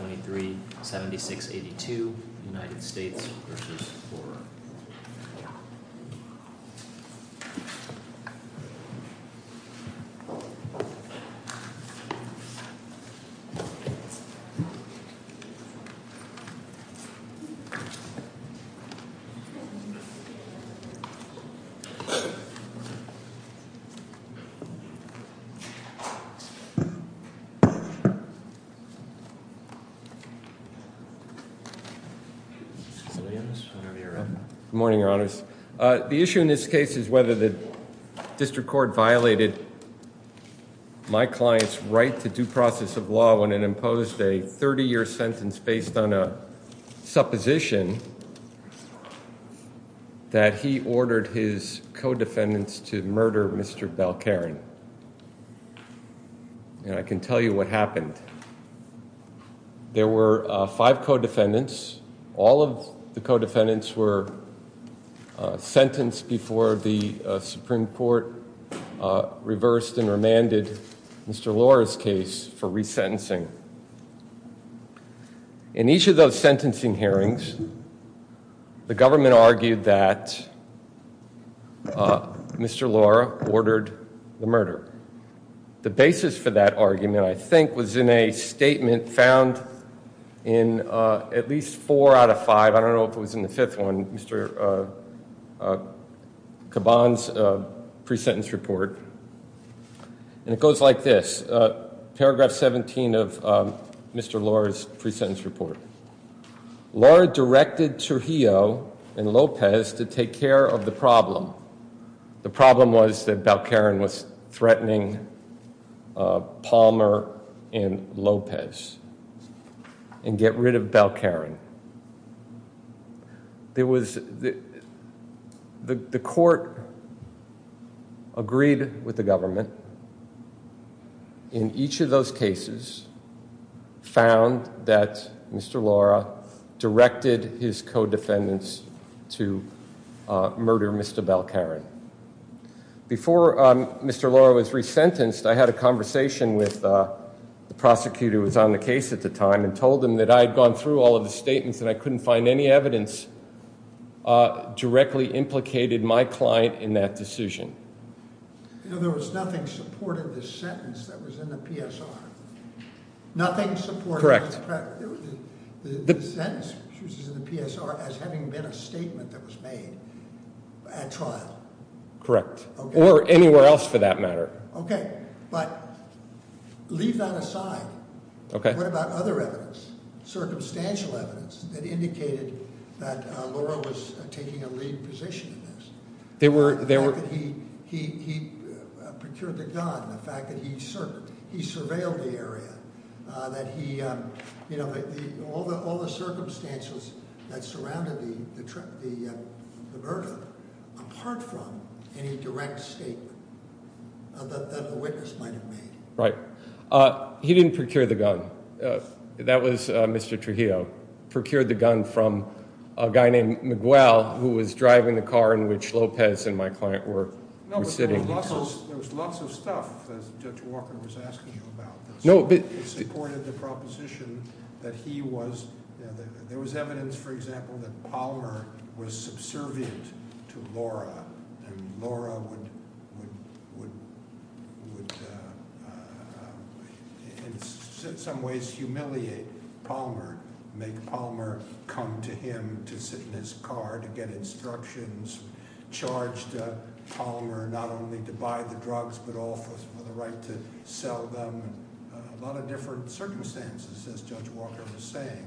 2376-82 United States v. Borough Good morning, Your Honors. The issue in this case is whether the district court violated my client's right to due process of law when it imposed a 30-year sentence based on a supposition that he ordered his co-defendants to murder Mr. Belkarin. And I can tell you what happened. There were five co-defendants. All of the co-defendants were sentenced before the Supreme Court reversed and remanded Mr. Laura's case for resentencing. In each of those sentencing hearings, the government argued that Mr. Laura ordered the murder. The basis for that argument, I think, was in a statement found in at least four out of five, I don't know if it was in the fifth one, Mr. Kaban's pre-sentence report. And it goes like this. Paragraph 17 of Mr. Laura's pre-sentence report. Laura directed Trujillo and Lopez to take care of the problem. The problem was that Belkarin was threatening Palmer and Lopez and get rid of Belkarin. The court agreed with the government. In each of those cases, found that Mr. Laura directed his co-defendants to murder Mr. Belkarin. Before Mr. Laura was resentenced, I had a conversation with the prosecutor who was on the case at the time and told him that I had gone through all of the statements and I couldn't find any evidence directly implicated my client in that decision. In other words, nothing supported the sentence that was in the PSR. Nothing supported the sentence that was in the PSR as having been a statement that was made at trial. Correct. Or anywhere else for that matter. Okay. But leave that aside. What about other evidence? Circumstantial evidence that indicated that Laura was taking a lead position in this? The fact that he procured the gun. The fact that he surveilled the area. All the circumstances that surrounded the murder apart from any direct statement that the witness might have made. Right. He didn't procure the gun. That was Mr. Trujillo. Procured the gun from a guy named Miguel who was driving the car in which Lopez and my client were sitting. There was lots of stuff that Judge Walker was asking you about. It supported the proposition that he was – there was evidence for example that Palmer was subservient to Laura and Laura would in some ways humiliate Palmer. Make Palmer come to him to sit in his car to get instructions. Charged Palmer not only to buy the drugs but also for the right to sell them. A lot of different circumstances as Judge Walker was saying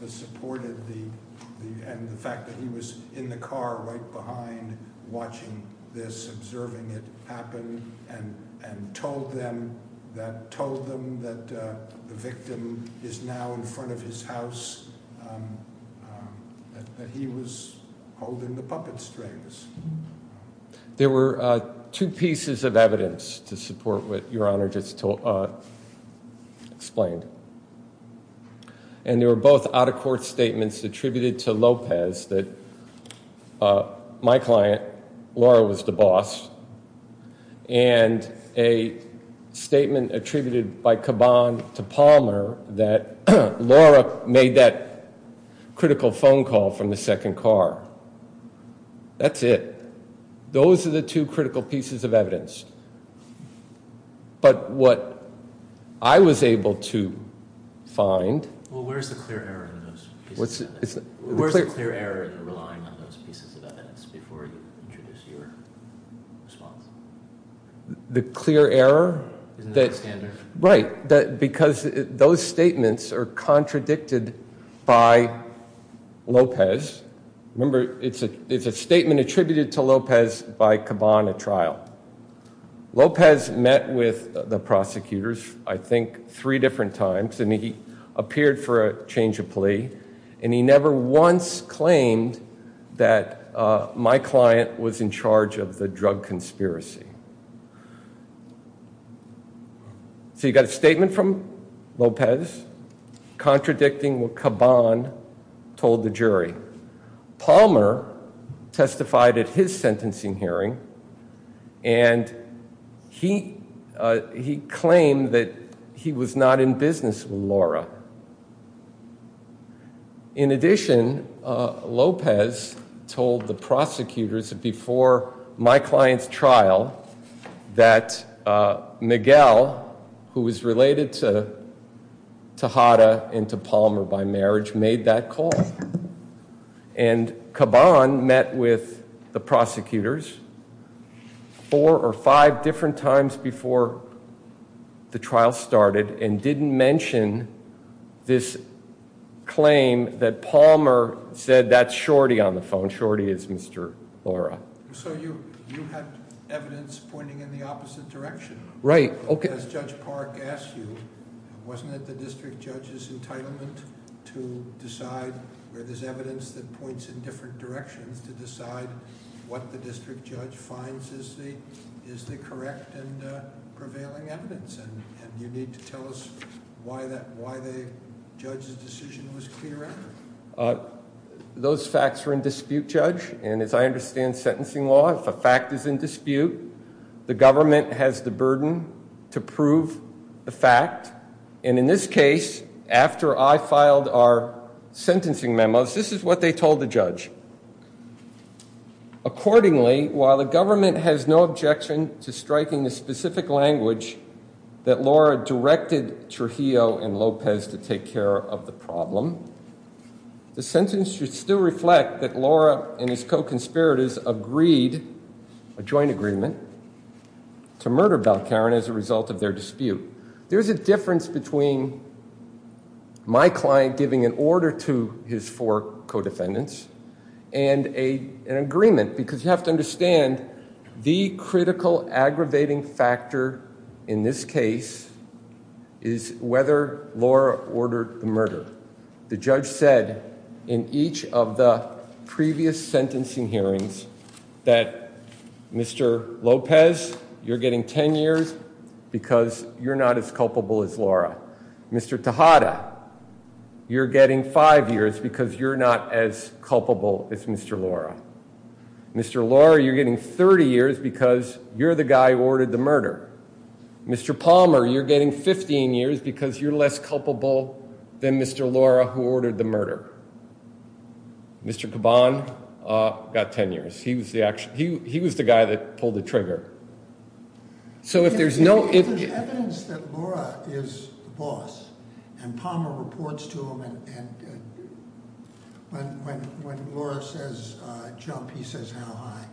that supported the fact that he was in the car right behind watching this, observing it happen, and told them that the victim is now in front of his house, that he was holding the puppet strings. There were two pieces of evidence to support what Your Honor just explained. And they were both out of court statements attributed to Lopez that my client, Laura, was the boss. And a statement attributed by Caban to Palmer that Laura made that critical phone call from the second car. That's it. Those are the two critical pieces of evidence. But what I was able to find – Well, where's the clear error in those pieces of evidence? Where's the clear error in relying on those pieces of evidence before you introduce your response? The clear error that – Isn't that the standard? Right. Because those statements are contradicted by Lopez. Remember, it's a statement attributed to Lopez by Caban at trial. Lopez met with the prosecutors, I think, three different times. And he appeared for a change of plea. And he never once claimed that my client was in charge of the drug conspiracy. So you've got a statement from Lopez contradicting what Caban told the jury. Palmer testified at his sentencing hearing. And he claimed that he was not in business with Laura. In addition, Lopez told the prosecutors before my client's trial that Miguel, who was related to Hada and to Palmer by marriage, made that call. And Caban met with the prosecutors four or five different times before the trial started and didn't mention this claim that Palmer said that's Shorty on the phone. Shorty is Mr. Laura. So you had evidence pointing in the opposite direction. Right. As Judge Park asked you, wasn't it the district judge's entitlement to decide where there's evidence that points in different directions, to decide what the district judge finds is the correct and prevailing evidence? And you need to tell us why the judge's decision was clear evidence. Those facts are in dispute, Judge. And as I understand sentencing law, if a fact is in dispute, the government has the burden to prove the fact. And in this case, after I filed our sentencing memos, this is what they told the judge. Accordingly, while the government has no objection to striking the specific language that Laura directed Trujillo and Lopez to take care of the problem, the sentence should still reflect that Laura and his co-conspirators agreed, a joint agreement, to murder Balcarin as a result of their dispute. There's a difference between my client giving an order to his four co-defendants and an agreement because you have to understand the critical aggravating factor in this case is whether Laura ordered the murder. The judge said in each of the previous sentencing hearings that Mr. Lopez, you're getting 10 years because you're not as culpable as Laura. Mr. Tejada, you're getting five years because you're not as culpable as Mr. Laura. Mr. Laura, you're getting 30 years because you're the guy who ordered the murder. Mr. Palmer, you're getting 15 years because you're less culpable than Mr. Laura who ordered the murder. Mr. Caban got 10 years. He was the guy that pulled the trigger. So if there's no- There's evidence that Laura is the boss, and Palmer reports to him, and when Laura says jump, he says how high,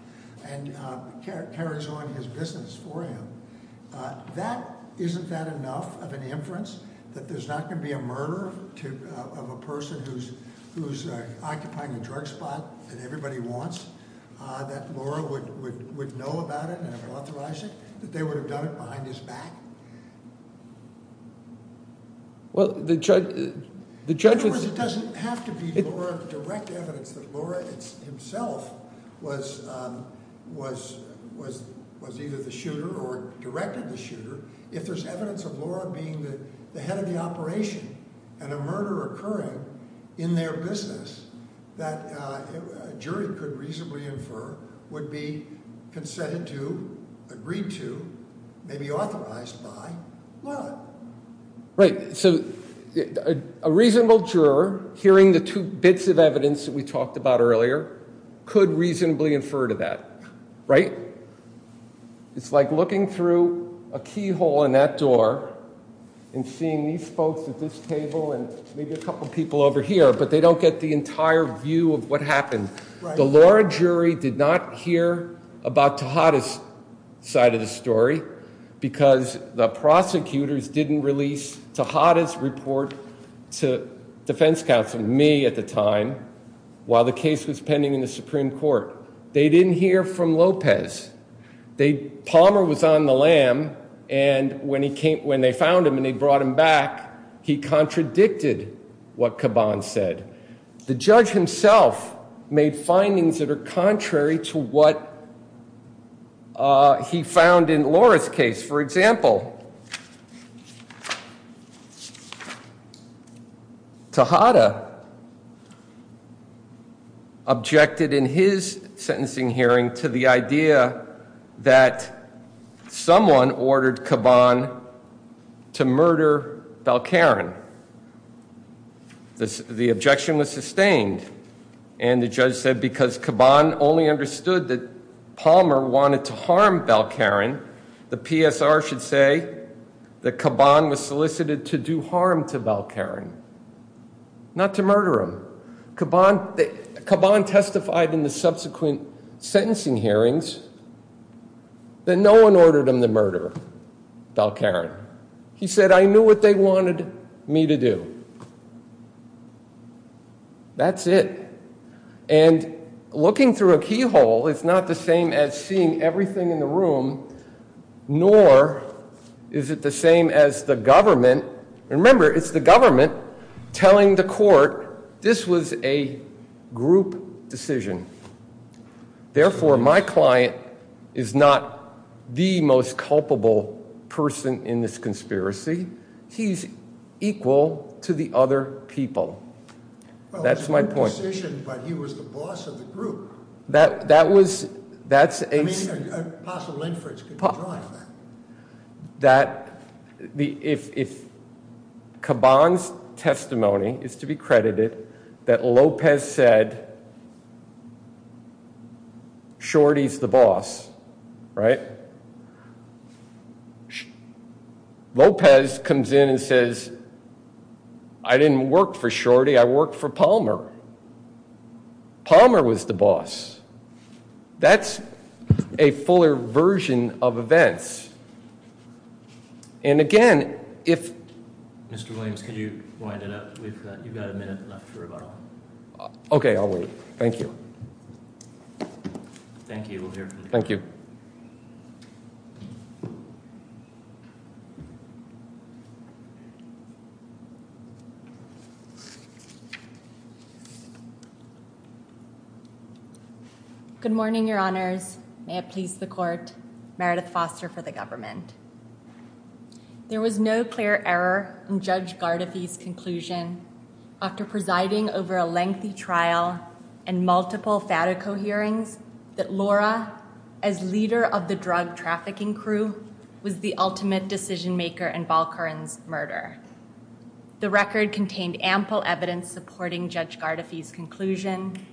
and carries on his business for him. Isn't that enough of an inference that there's not going to be a murder of a person who's occupying a drug spot that everybody wants, that Laura would know about it and authorize it, that they would have done it behind his back? Well, the judge- In other words, it doesn't have to be direct evidence that Laura himself was either the shooter or directed the shooter. If there's evidence of Laura being the head of the operation and a murder occurring in their business that a jury could reasonably infer would be consented to, agreed to, maybe authorized by Laura. Right. So a reasonable juror, hearing the two bits of evidence that we talked about earlier, could reasonably infer to that, right? It's like looking through a keyhole in that door and seeing these folks at this table and maybe a couple people over here, but they don't get the entire view of what happened. The Laura jury did not hear about Tejada's side of the story because the prosecutors didn't release Tejada's report to defense counsel, me at the time, while the case was pending in the Supreme Court. They didn't hear from Lopez. Palmer was on the lam, and when they found him and they brought him back, he contradicted what Caban said. The judge himself made findings that are contrary to what he found in Laura's case. For example, Tejada objected in his sentencing hearing to the idea that someone ordered Caban to murder Balcarin. The objection was sustained, and the judge said because Caban only understood that Palmer wanted to harm Balcarin, the PSR should say that Caban was solicited to do harm to Balcarin, not to murder him. Caban testified in the subsequent sentencing hearings that no one ordered him to murder Balcarin. He said, I knew what they wanted me to do. That's it. And looking through a keyhole is not the same as seeing everything in the room, nor is it the same as the government. Remember, it's the government telling the court this was a group decision. Therefore, my client is not the most culpable person in this conspiracy. He's equal to the other people. That's my point. But he was the boss of the group. That that was that's a possible inference that if Caban's testimony is to be credited that Lopez said Shorty's the boss. Right. Lopez comes in and says, I didn't work for Shorty. I worked for Palmer. Palmer was the boss. That's a fuller version of events. And again, if Mr. Williams, could you wind it up? We've got a minute left for rebuttal. OK, I'll wait. Thank you. Thank you. Thank you. Good morning, Your Honors. May it please the court. Meredith Foster for the government. There was no clear error in Judge Gardafi's conclusion after presiding over a lengthy trial and multiple Fatico hearings that Laura, as leader of the drug trafficking crew, was the ultimate decision maker in Balkaran's murder. The record contained ample evidence supporting Judge Gardafi's conclusion.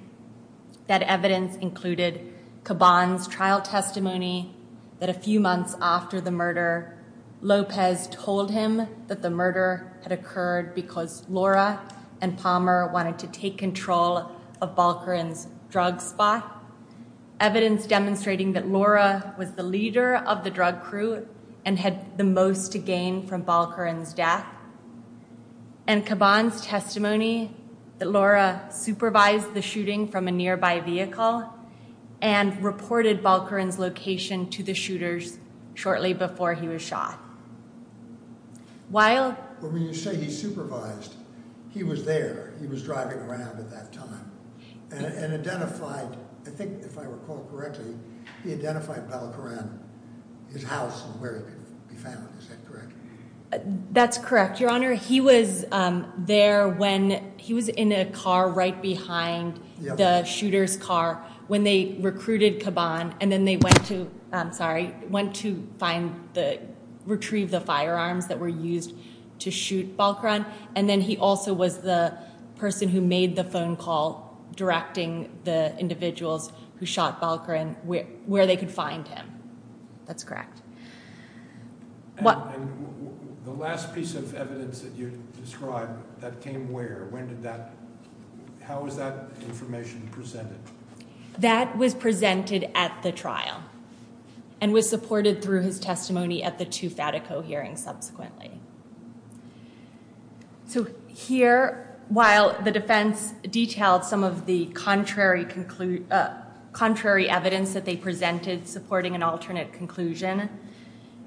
That evidence included Caban's trial testimony that a few months after the murder, Lopez told him that the murder had occurred because Laura and Palmer wanted to take control of Balkaran's drug spot. Evidence demonstrating that Laura was the leader of the drug crew and had the most to gain from Balkaran's death. And Caban's testimony that Laura supervised the shooting from a nearby vehicle and reported Balkaran's location to the shooters shortly before he was shot. While you say he supervised, he was there, he was driving around at that time and identified, I think, if I recall correctly, he identified Balkaran, his house and where he could be found. Is that correct? That's correct, Your Honor. He was there when he was in a car right behind the shooter's car when they recruited Caban. And then they went to, I'm sorry, went to retrieve the firearms that were used to shoot Balkaran. And then he also was the person who made the phone call directing the individuals who shot Balkaran where they could find him. That's correct. And the last piece of evidence that you described, that came where? When did that, how was that information presented? That was presented at the trial and was supported through his testimony at the two Fatico hearings subsequently. So here, while the defense detailed some of the contrary evidence that they presented supporting an alternate conclusion,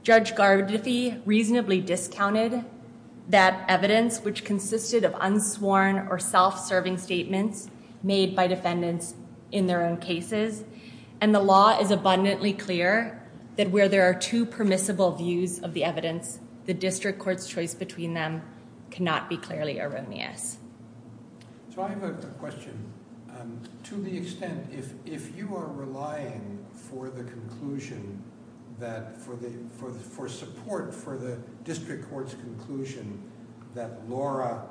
Judge Gardifi reasonably discounted that evidence, which consisted of unsworn or self-serving statements made by defendants in their own cases. And the law is abundantly clear that where there are two permissible views of the evidence, the district court's choice between them cannot be clearly erroneous. So I have a question. To the extent, if you are relying for the conclusion that, for support for the district court's conclusion that Laura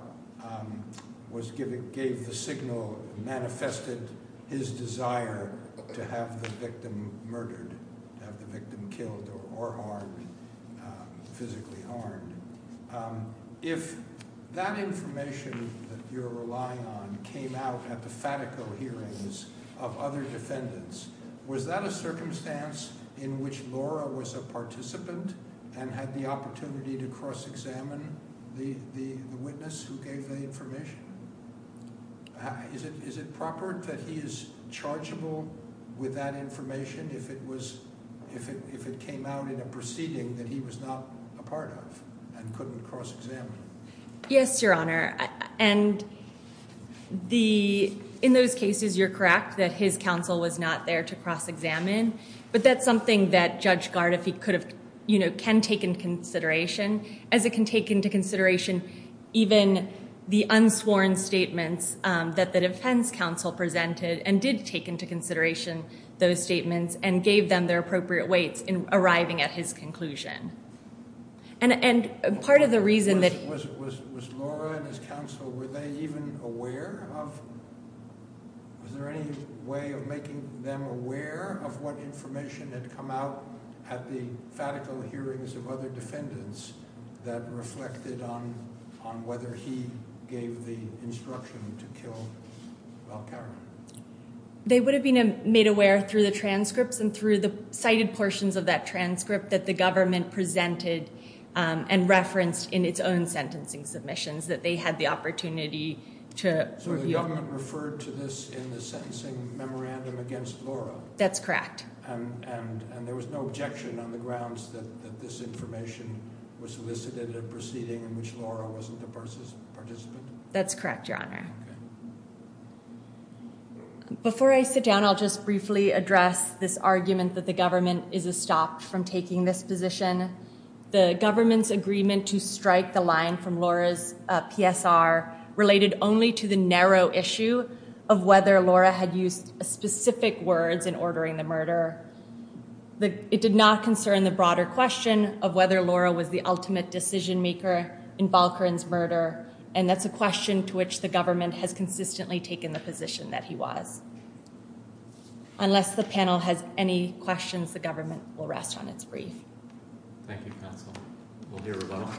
gave the signal, manifested his desire to have the victim murdered, to have the victim killed or physically harmed, if that information that you're relying on came out at the Fatico hearings of other defendants, was that a circumstance in which Laura was a participant and had the opportunity to cross-examine the witness who gave the information? Is it proper that he is chargeable with that information if it came out in a proceeding that he was not a part of and couldn't cross-examine? Yes, Your Honor. And in those cases, you're correct that his counsel was not there to cross-examine. But that's something that Judge Gardifi could have, you know, can take into consideration, as it can take into consideration even the unsworn statements that the defense counsel presented and did take into consideration those statements and gave them their appropriate weights in arriving at his conclusion. And part of the reason that... Was Laura and his counsel, were they even aware of, was there any way of making them aware of what information had come out at the Fatico hearings of other defendants that reflected on whether he gave the instruction to kill Valcarra? They would have been made aware through the transcripts and through the cited portions of that transcript that the government presented and referenced in its own sentencing submissions that they had the opportunity to... So the government referred to this in the sentencing memorandum against Laura? That's correct. And there was no objection on the grounds that this information was solicited in a proceeding in which Laura wasn't a participant? That's correct, Your Honor. Before I sit down, I'll just briefly address this argument that the government is a stop from taking this position. The government's agreement to strike the line from Laura's PSR related only to the narrow issue of whether Laura had used specific words in ordering the murder. It did not concern the broader question of whether Laura was the ultimate decision maker in Valcarra's murder, and that's a question to which the government has consistently taken the position that he was. Unless the panel has any questions, the government will rest on its brief. Thank you, counsel. We'll hear from them.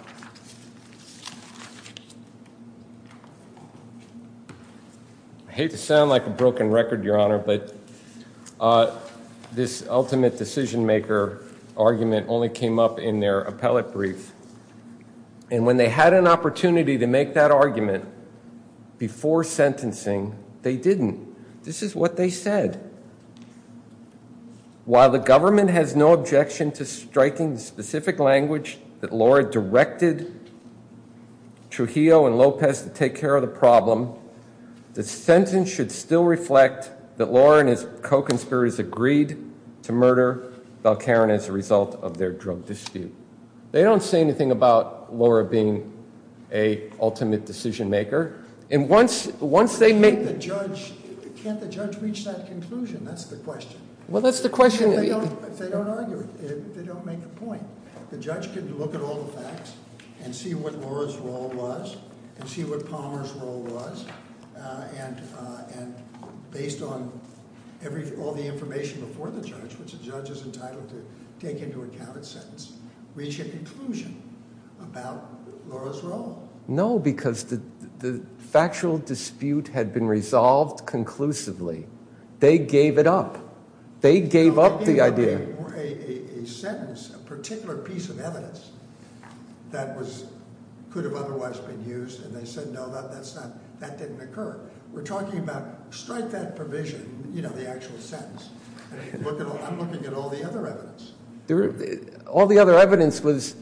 I hate to sound like a broken record, Your Honor, but this ultimate decision maker argument only came up in their appellate brief. And when they had an opportunity to make that argument before sentencing, they didn't. This is what they said. While the government has no objection to striking the specific language that Laura directed Trujillo and Lopez to take care of the problem, the sentence should still reflect that Laura and his co-conspirators agreed to murder Valcarra as a result of their drug dispute. They don't say anything about Laura being a ultimate decision maker. And once they make- Can't the judge reach that conclusion? That's the question. Well, that's the question. They don't argue it. They don't make a point. The judge can look at all the facts and see what Laura's role was and see what Palmer's role was. And based on all the information before the judge, which a judge is entitled to take into account at sentence, reach a conclusion about Laura's role. No, because the factual dispute had been resolved conclusively. They gave it up. They gave up the idea. A sentence, a particular piece of evidence that could have otherwise been used, and they said no, that didn't occur. We're talking about strike that provision, you know, the actual sentence. I'm looking at all the other evidence. All the other evidence was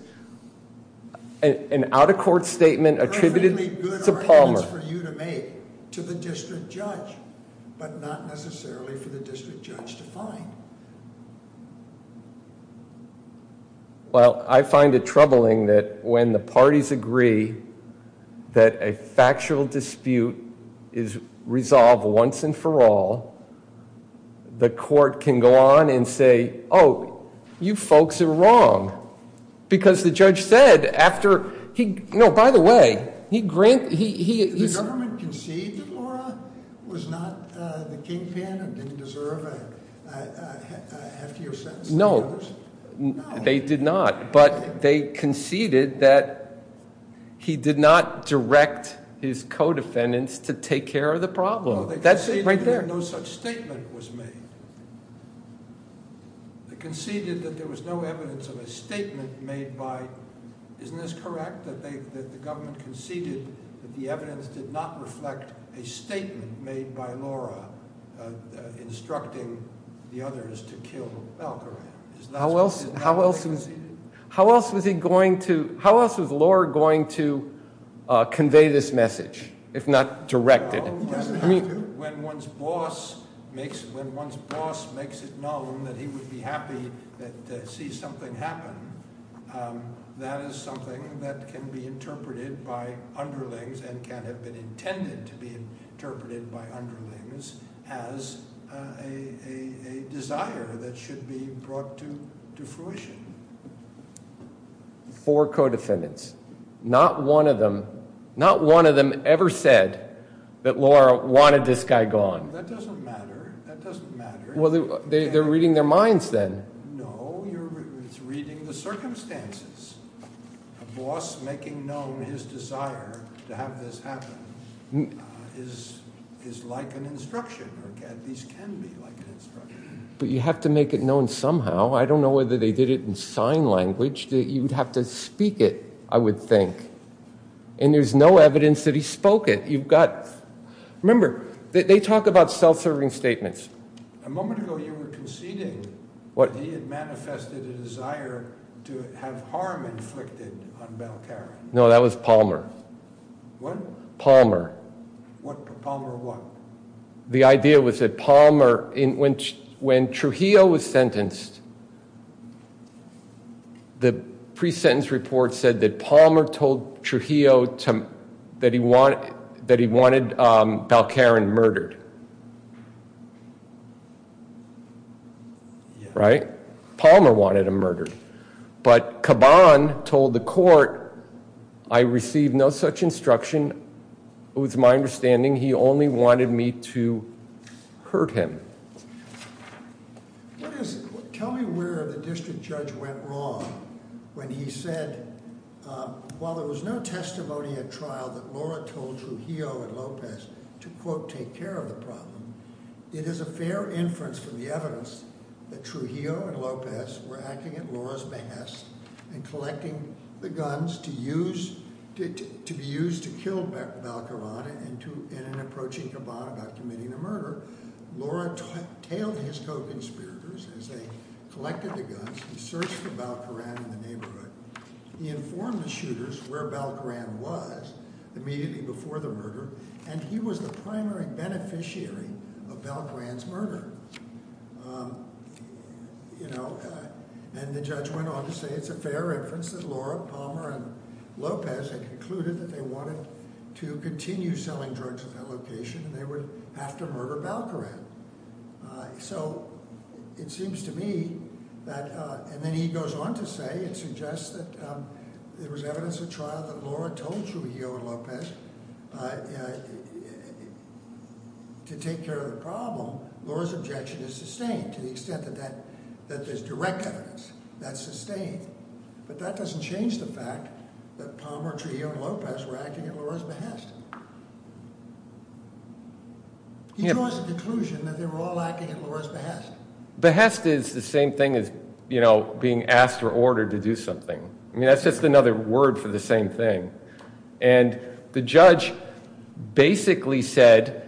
an out-of-court statement attributed to Palmer. To the district judge, but not necessarily for the district judge to find. Well, I find it troubling that when the parties agree that a factual dispute is resolved once and for all, the court can go on and say, oh, you folks are wrong. Because the judge said after he, no, by the way, he granted, he- The government conceded that Laura was not the kingpin and didn't deserve a heftier sentence than others? No. They did not, but they conceded that he did not direct his co-defendants to take care of the problem. That's it right there. No, they conceded that no such statement was made. They conceded that there was no evidence of a statement made by, isn't this correct? That the government conceded that the evidence did not reflect a statement made by Laura instructing the others to kill Val Coran. How else was he going to, how else was Laura going to convey this message, if not direct it? When one's boss makes it known that he would be happy to see something happen, that is something that can be interpreted by underlings and can have been intended to be interpreted by underlings as a desire that should be brought to fruition. Four co-defendants. Not one of them, not one of them ever said that Laura wanted this guy gone. That doesn't matter, that doesn't matter. Well, they're reading their minds then. No, it's reading the circumstances. A boss making known his desire to have this happen is like an instruction, or at least can be like an instruction. But you have to make it known somehow. I don't know whether they did it in sign language. You would have to speak it, I would think. And there's no evidence that he spoke it. You've got, remember, they talk about self-serving statements. A moment ago you were conceding that he had manifested a desire to have harm inflicted on Val Coran. No, that was Palmer. What? Palmer what? The idea was that Palmer, when Trujillo was sentenced, the pre-sentence report said that Palmer told Trujillo that he wanted Val Coran murdered. Right? Palmer wanted him murdered. But Caban told the court, I received no such instruction. It was my understanding he only wanted me to hurt him. Tell me where the district judge went wrong when he said, while there was no testimony at trial that Laura told Trujillo and Lopez to quote take care of the problem, it is a fair inference from the evidence that Trujillo and Lopez were acting at Laura's behest and collecting the guns to be used to kill Val Coran in an approaching Caban about committing a murder. Laura tailed his co-conspirators as they collected the guns and searched for Val Coran in the neighborhood. He informed the shooters where Val Coran was immediately before the murder and he was the primary beneficiary of Val Coran's murder. And the judge went on to say it's a fair inference that Laura, Palmer, and Lopez had concluded that they wanted to continue selling drugs at that location and they would have to murder Val Coran. So it seems to me that, and then he goes on to say it suggests that there was evidence at trial that Laura told Trujillo and Lopez to take care of the problem, Laura's objection is sustained to the extent that there's direct evidence that's sustained. But that doesn't change the fact that Palmer, Trujillo, and Lopez were acting at Laura's behest. He draws the conclusion that they were all acting at Laura's behest. Behest is the same thing as, you know, being asked or ordered to do something. I mean that's just another word for the same thing. And the judge basically said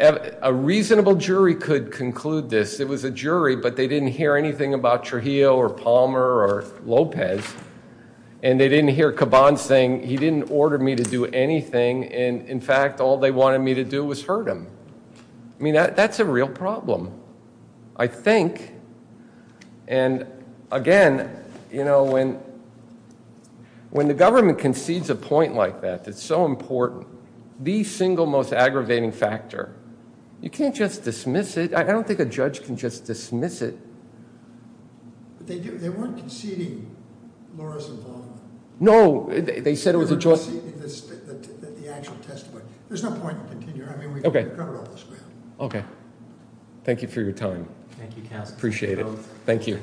a reasonable jury could conclude this. It was a jury but they didn't hear anything about Trujillo or Palmer or Lopez. And they didn't hear Caban saying he didn't order me to do anything and in fact all they wanted me to do was hurt him. I mean that's a real problem, I think. And again, you know, when the government concedes a point like that that's so important, the single most aggravating factor, you can't just dismiss it. I don't think a judge can just dismiss it. They weren't conceding Laura's involvement. No, they said it was a... They weren't conceding the actual testimony. There's no point in continuing. Okay. I mean we've covered all this ground. Okay. Thank you for your time. Thank you, counsel. Appreciate it. Thank you.